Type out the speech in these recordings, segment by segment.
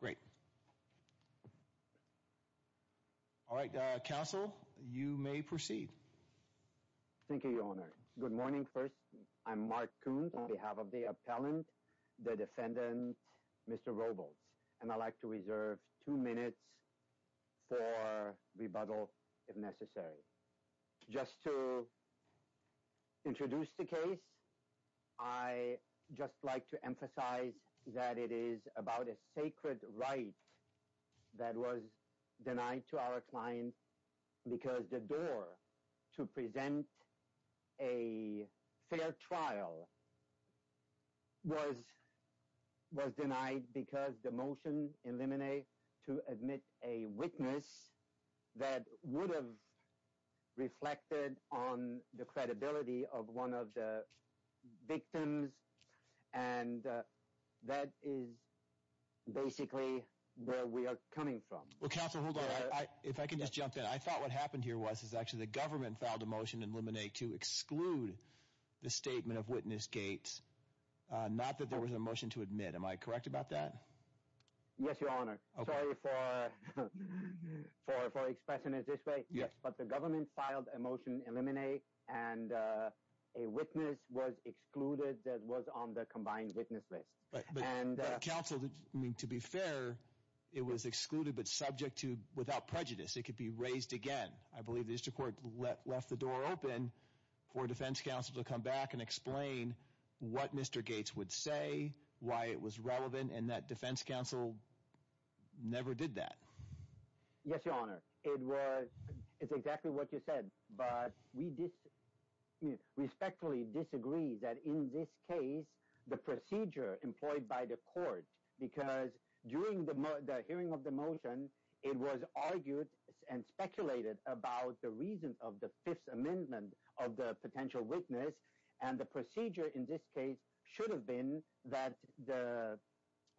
Great. All right, uh, Counsel, you may proceed. Thank you, Your Honor. Good morning. First, I'm Mark Coons on behalf of the appellant, the defendant, Mr. Robles, and I'd like to reserve two minutes for rebuttal if necessary. Just to introduce the case, I'd just like to emphasize that it is about a sacred right that was denied to our client because the door to present a fair trial was was denied because the motion in limine to admit a witness that would have reflected on the credibility of one of the victims, and that is basically where we are coming from. Well, Counsel, hold on. If I can just jump in. I thought what happened here was is actually the government filed a motion in limine to exclude the statement of witness gates, not that there was a motion to admit. Am I correct about that? Yes, Your Honor. Sorry for for for expressing it this way, but the government filed a motion in limine and a witness was excluded that was on the combined witness list. Counsel, I mean, to be fair, it was excluded but subject to without prejudice. It could be raised again. I believe the district court left the door open for defense counsel to come back and explain what Mr. Gates would say, why it was relevant, and that defense counsel never did that. Yes, Your Honor. It was it's exactly what you said, but we did respectfully disagree that in this case, the procedure employed by the court because during the hearing of the motion, it was argued and speculated about the reasons of the Fifth Amendment of the potential witness and the procedure in this case should have been that the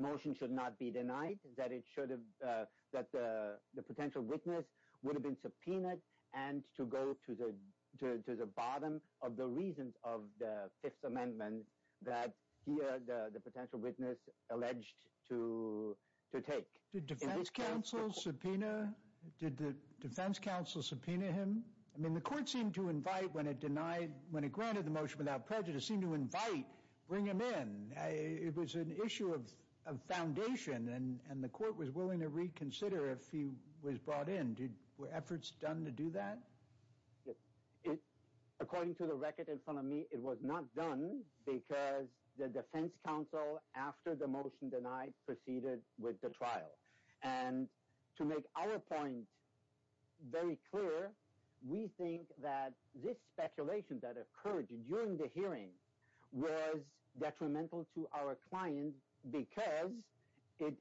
motion should not be denied, that it should have that the potential witness would have been subpoenaed, and to go to the to the bottom of the reasons of the Fifth Amendment that the potential witness alleged to to take the defense counsel subpoena. Did the defense counsel subpoena him? I mean, the court seemed to invite when it denied when it granted the motion without prejudice, seemed to invite, bring him in. It was an issue of foundation and the court was willing to reconsider if he was brought in. Did were efforts done to do that? According to the record in front of me, it was not done because the defense counsel after the motion denied proceeded with the trial. And to make our point very clear, we think that this speculation that occurred during the hearing was detrimental to our client because it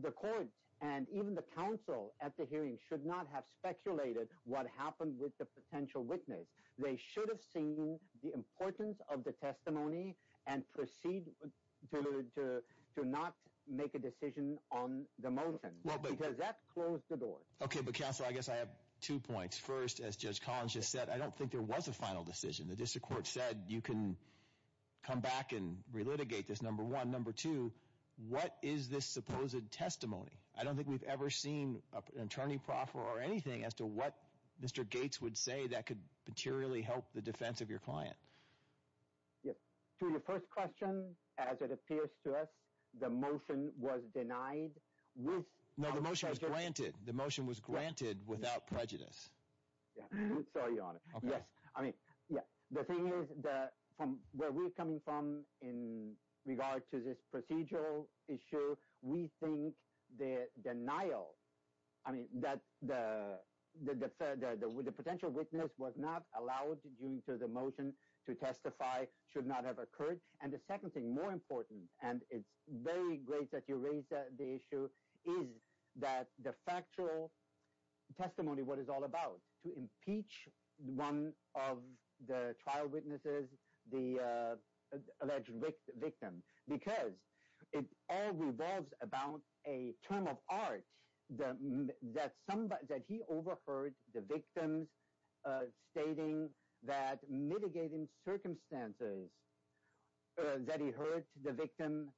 the court and even the counsel at the hearing should not have speculated what happened with the potential witness. They should have seen the importance of the testimony and proceed to not make a decision on the motion because that closed the door. OK, but counsel, I guess I have two points. First, as Judge Collins just said, I don't think there was a final decision. The district court said you can come back and relitigate this, number one. Number two, what is this supposed testimony? I don't think we've ever seen an attorney proffer or anything as to what Mr. Gates would say that could materially help the defense of your client. Yes. To your first question, as it appears to us, the motion was denied with... No, the motion was granted. The motion was granted without prejudice. Sorry, Your Honor. Yes. I mean, yeah, the thing is that from where we're coming from in regard to this procedural issue, we think the denial, I mean, that the potential witness was not allowed during the motion to testify should not have occurred. And the second thing, more important, and it's very great that you raised the issue, is that the factual testimony, what it's all about, to impeach one of the trial witnesses, the alleged victim, because it all revolves about a term of art that he overheard the victims stating that mitigating circumstances, that he heard the victim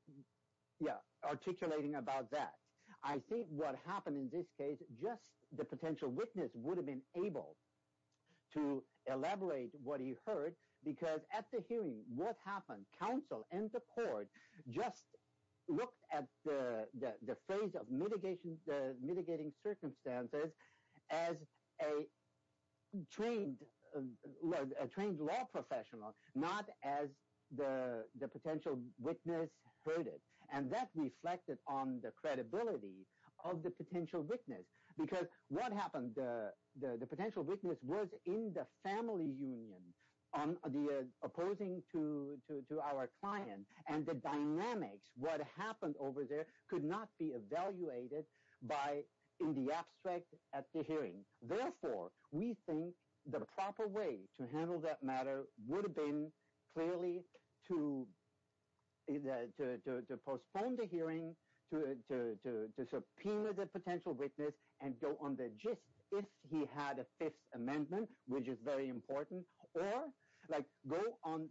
articulating about that. I think what happened in this case, just the potential witness would have been able to elaborate what he heard because at the hearing, what happened, counsel and the court just looked at the phrase of mitigating circumstances as a trained law professional, not as the potential witness heard it. And that reflected on the credibility of the potential witness. Because what happened, the potential witness was in the family union opposing to our client. And the dynamics, what happened over there could not be evaluated in the abstract at the hearing. Therefore, we think the proper way to handle that matter would have been clearly to postpone the hearing, to subpoena the potential witness and go on the gist, if he had a fifth amendment, which is very important. Or like go on,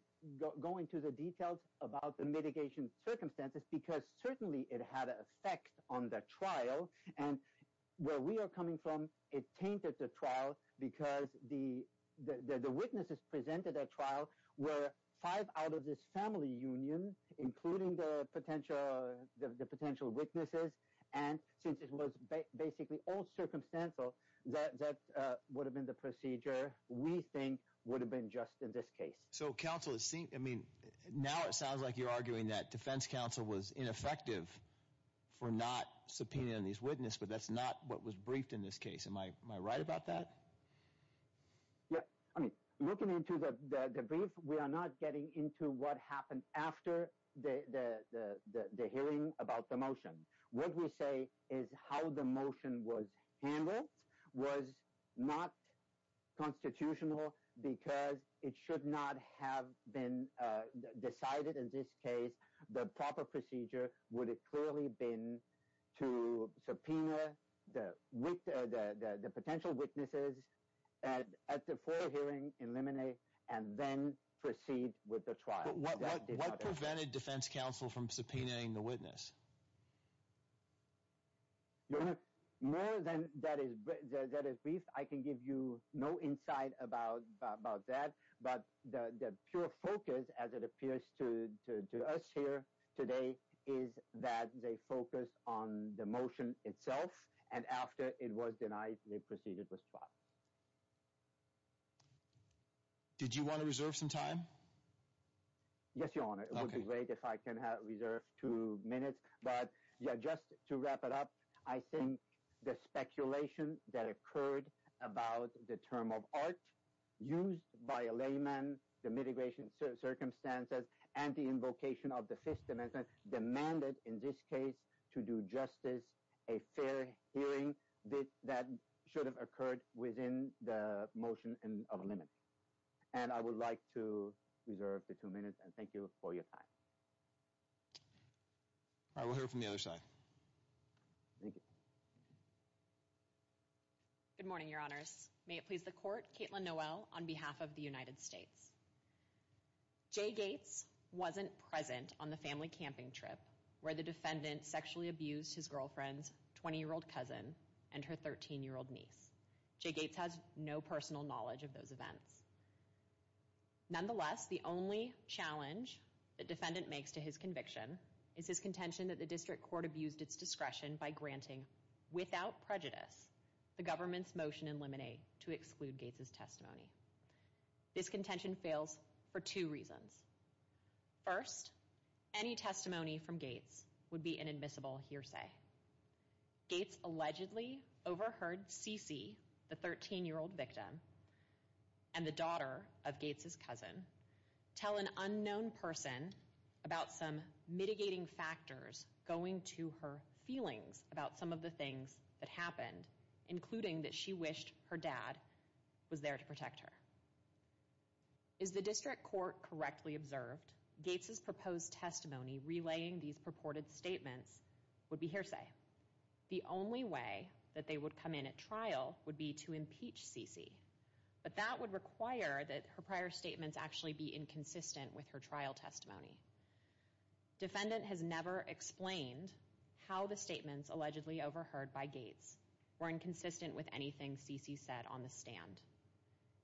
go into the details about the mitigation circumstances, because certainly it had an effect on the trial. And where we are coming from, it tainted the trial because the witnesses presented at trial were five out of this family union, including the potential witnesses. And since it was basically all circumstantial, that would have been the procedure we think would have been just in this case. So counsel is saying, I mean, now it sounds like you're arguing that defense counsel was ineffective for not subpoenaing these witnesses. But that's not what was briefed in this case. Am I right about that? Yeah. I mean, looking into the brief, we are not getting into what happened after the hearing about the motion. What we say is how the motion was handled was not constitutional because it should not have been decided in this case. The proper procedure would have clearly been to subpoena the potential witnesses at the full hearing, eliminate, and then proceed with the trial. But what prevented defense counsel from subpoenaing the witness? More than that is brief, I can give you no insight about that. But the pure focus, as it appears to us here today, is that they focus on the motion itself. And after it was denied, they proceeded with trial. Did you want to reserve some time? Yes, your honor. It would be great if I can reserve two minutes. But yeah, just to wrap it up, I think the speculation that occurred about the term of art used by a layman, the mitigation circumstances, and the invocation of the Fifth Amendment demanded, in this case, to do justice, a fair hearing that should have occurred within the motion of a limit. And I would like to reserve the two minutes. And thank you for your time. All right, we'll hear from the other side. Thank you. Good morning, your honors. May it please the court, Caitlin Noel, on behalf of the United States. Jay Gates wasn't present on the family camping trip where the defendant sexually abused his girlfriend's 20-year-old cousin and her 13-year-old niece. Jay Gates has no personal knowledge of those events. Nonetheless, the only challenge the defendant makes to his conviction is his contention that the district court abused its discretion by granting, without prejudice, the government's motion in limine to exclude Gates' testimony. This contention fails for two reasons. First, any testimony from Gates would be an admissible hearsay. Gates allegedly overheard CeCe, the 13-year-old victim, and the daughter of Gates' cousin tell an unknown person about some mitigating factors going to her feelings about some of the things that happened, including that she wished her dad was there to protect her. As the district court correctly observed, Gates' proposed testimony relaying these purported statements would be hearsay. The only way that they would come in at trial would be to impeach CeCe, but that would require that her prior statements actually be inconsistent with her trial testimony. The defendant has never explained how the statements allegedly overheard by Gates were inconsistent with anything CeCe said on the stand.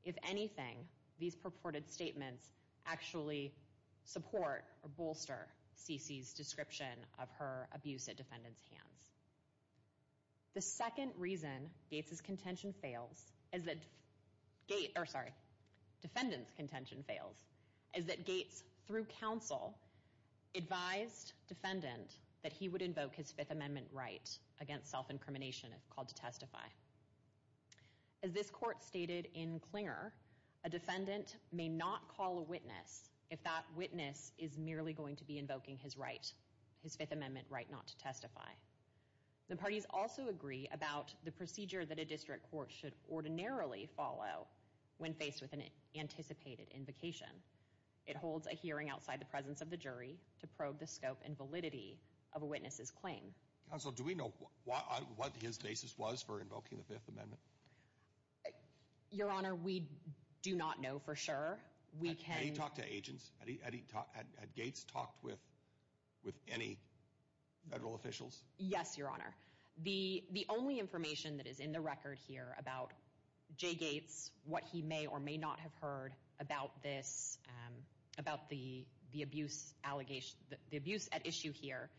If anything, these purported statements actually support or bolster CeCe's description of her abuse at the defendant's hands. The second reason Gates' contention fails is that Gates, or sorry, defendant's contention advised defendant that he would invoke his Fifth Amendment right against self-incrimination if called to testify. As this court stated in Clinger, a defendant may not call a witness if that witness is merely going to be invoking his right, his Fifth Amendment right not to testify. The parties also agree about the procedure that a district court should ordinarily follow when faced with an anticipated invocation. It holds a hearing outside the presence of the jury to probe the scope and validity of a witness's claim. Counsel, do we know what his basis was for invoking the Fifth Amendment? Your Honor, we do not know for sure. We can... Have you talked to agents? Had Gates talked with any federal officials? Yes, Your Honor. The only information that is in the record here about Jay Gates, what he may or may not have heard about this, about the abuse at issue here,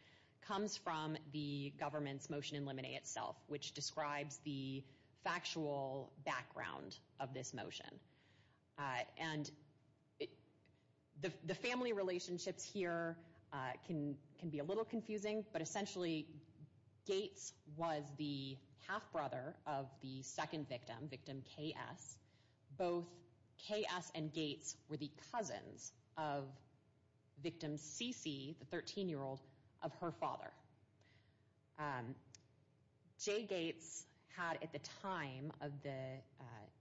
comes from the government's motion in limine itself, which describes the factual background of this motion. And the family relationships here can be a little confusing, but essentially Gates was the half-brother of the second victim, victim K.S. Both K.S. and Gates were the cousins of victim C.C., the 13-year-old, of her father. Jay Gates had, at the time of the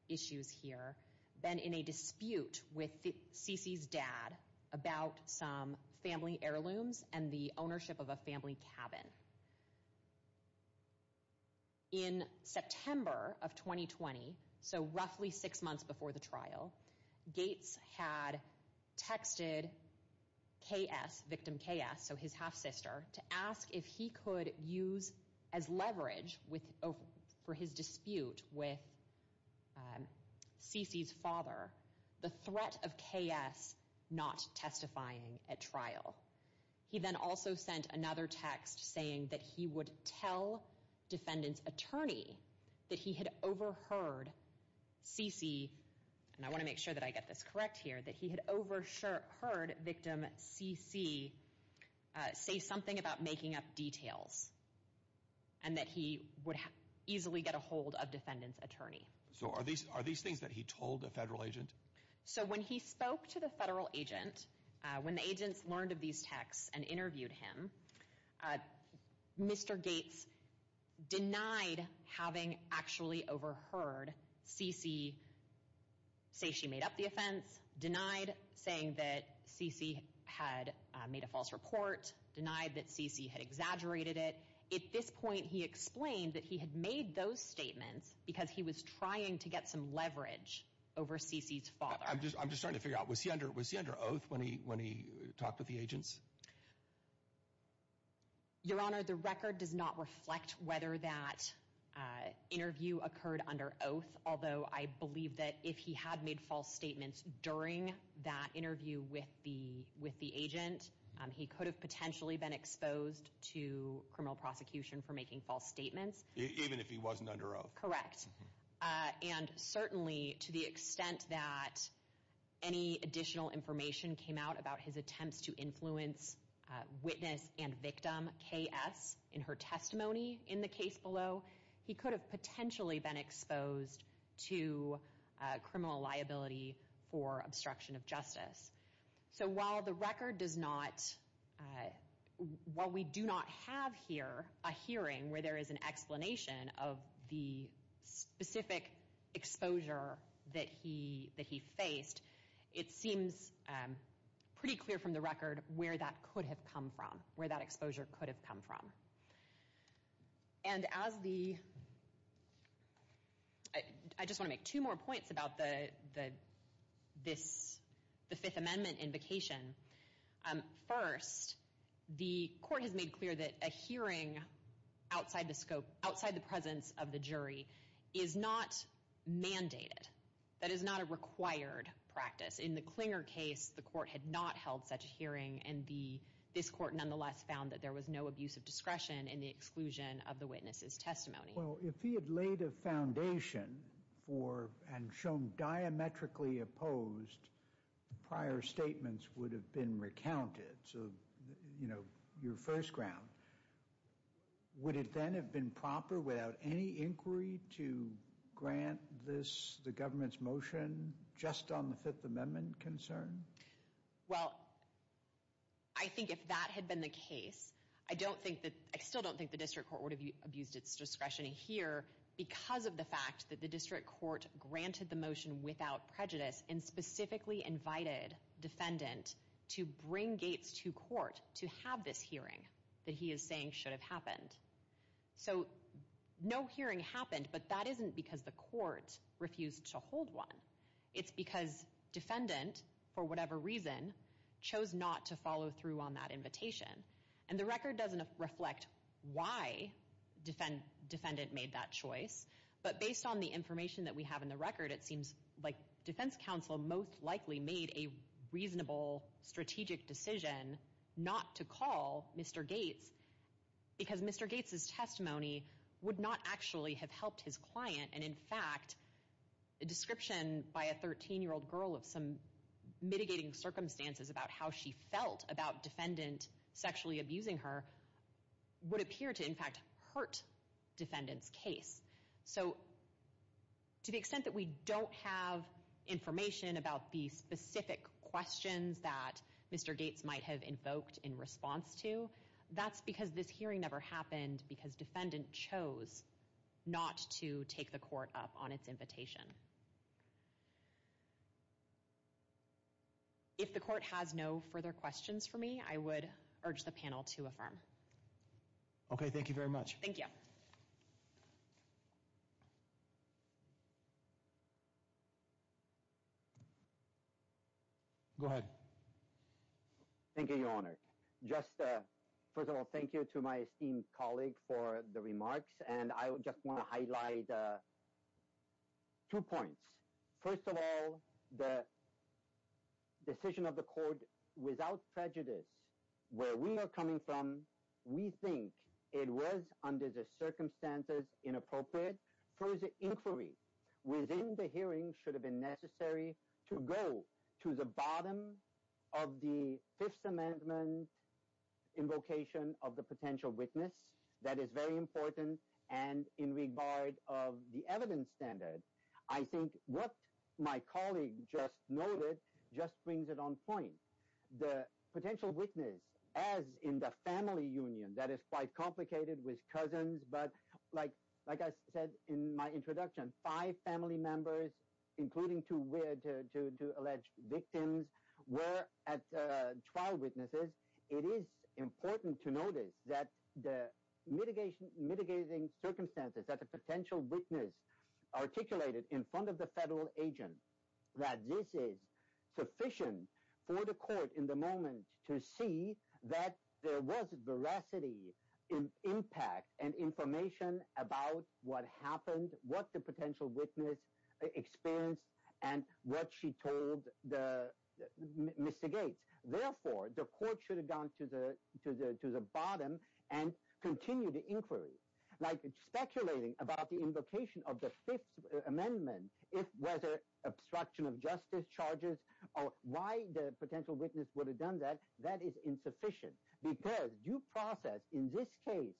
issues here, been in a dispute with C.C.'s dad about some family heirlooms and the ownership of a family cabin. In September of 2020, so roughly six months before the trial, Gates had texted K.S., victim K.S., so his half-sister, to ask if he could use as leverage for his dispute with C.C.'s father the threat of K.S. not testifying at trial. He then also sent another text saying that he would tell defendant's attorney that he had overheard C.C., and I want to make sure that I get this correct here, that he had heard victim C.C. say something about making up details and that he would easily get a hold of defendant's attorney. So are these things that he told a federal agent? So when he spoke to the federal agent, when the agents learned of these texts and interviewed him, Mr. Gates denied having actually overheard C.C. say she made up the offense, denied saying that C.C. had made a false report, denied that C.C. had exaggerated it. At this point, he explained that he had made those statements because he was trying to get some leverage over C.C.'s father. I'm just starting to figure out, was he under oath when he talked with the agents? Your Honor, the record does not reflect whether that interview occurred under oath, although I believe that if he had made false statements during that interview with the agent, he could have potentially been exposed to criminal prosecution for making false statements. Even if he wasn't under oath? Correct. And certainly, to the extent that any additional information came out about his attempts to influence witness and victim K.S. in her testimony in the case below, he could have potentially been exposed to criminal liability for obstruction of justice. So while the record does not, while we do not have here a hearing where there is an specific exposure that he, that he faced, it seems pretty clear from the record where that could have come from, where that exposure could have come from. And as the, I just want to make two more points about the, the, this, the Fifth Amendment invocation. First, the court has made clear that a hearing outside the scope, outside the presence of the jury, is not mandated. That is not a required practice. In the Clinger case, the court had not held such a hearing and the, this court nonetheless found that there was no abuse of discretion in the exclusion of the witness's testimony. Well, if he had laid a foundation for, and shown diametrically opposed, prior statements would have been recounted. You know, your first ground. Would it then have been proper without any inquiry to grant this, the government's motion just on the Fifth Amendment concern? Well, I think if that had been the case, I don't think that, I still don't think the district court would have abused its discretion here because of the fact that the district court granted the motion without prejudice and specifically invited defendant to bring Gates to court to have this hearing that he is saying should have happened. So, no hearing happened, but that isn't because the court refused to hold one. It's because defendant, for whatever reason, chose not to follow through on that invitation. And the record doesn't reflect why defend, defendant made that choice, but based on the information that we have in the record, it seems like defense counsel most likely made a reasonable strategic decision not to call Mr. Gates because Mr. Gates' testimony would not actually have helped his client. And in fact, a description by a 13-year-old girl of some mitigating circumstances about how she felt about defendant sexually abusing her would appear to, in fact, hurt defendant's case. So, to the extent that we don't have information about the specific questions that Mr. Gates might have invoked in response to, that's because this hearing never happened because defendant chose not to take the court up on its invitation. If the court has no further questions for me, I would urge the panel to affirm. Okay, thank you very much. Thank you. Go ahead. Thank you, Your Honor. Just, first of all, thank you to my esteemed colleague for the remarks. And I just want to highlight two points. First of all, the decision of the court, without prejudice, where we are coming from, we think it was, under the circumstances, inappropriate for the inquiry within the hearing should have been necessary to go to the bottom of the Fifth Amendment invocation of the potential witness. That is very important. And in regard of the evidence standard, I think what my colleague just noted just brings it on point. The potential witness, as in the family union, that is quite complicated with cousins. But like I said in my introduction, five family members, including two alleged victims, were at trial witnesses. It is important to notice that the mitigation, mitigating circumstances that the potential witness articulated in front of the federal agent, that this is sufficient for the court in the moment to see that there was veracity in impact and information about what happened, what the potential witness experienced, and what she told the Mr. Gates. Therefore, the court should have gone to the bottom and continued the inquiry. Speculating about the invocation of the Fifth Amendment, whether obstruction of justice charges or why the potential witness would have done that, that is insufficient. Because due process in this case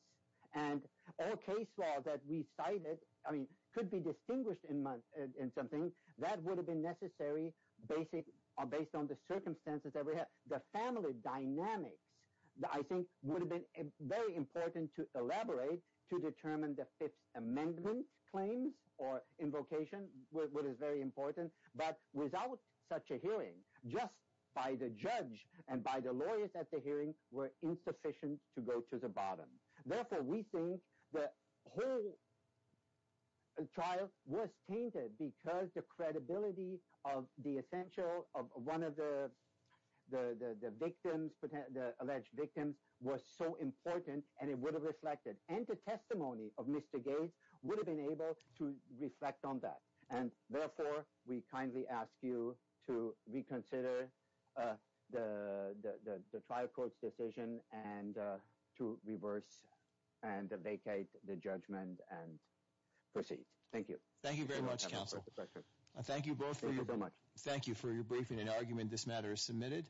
and all case law that we cited could be distinguished in something that would have been necessary based on the circumstances that we had. The family dynamics, I think, would have been very important to elaborate to determine the Fifth Amendment claims or invocation, which is very important. But without such a hearing, just by the judge and by the lawyers at the hearing were insufficient to go to the bottom. Therefore, we think the whole trial was tainted because the credibility of the essential, one of the victims, the alleged victims, was so important and it would have reflected. And the testimony of Mr. Gates would have been able to reflect on that. And therefore, we kindly ask you to reconsider the trial court's decision and to reverse and vacate the judgment and proceed. Thank you. Thank you very much, counsel. Thank you both. Thank you for your briefing and argument. This matter is submitted.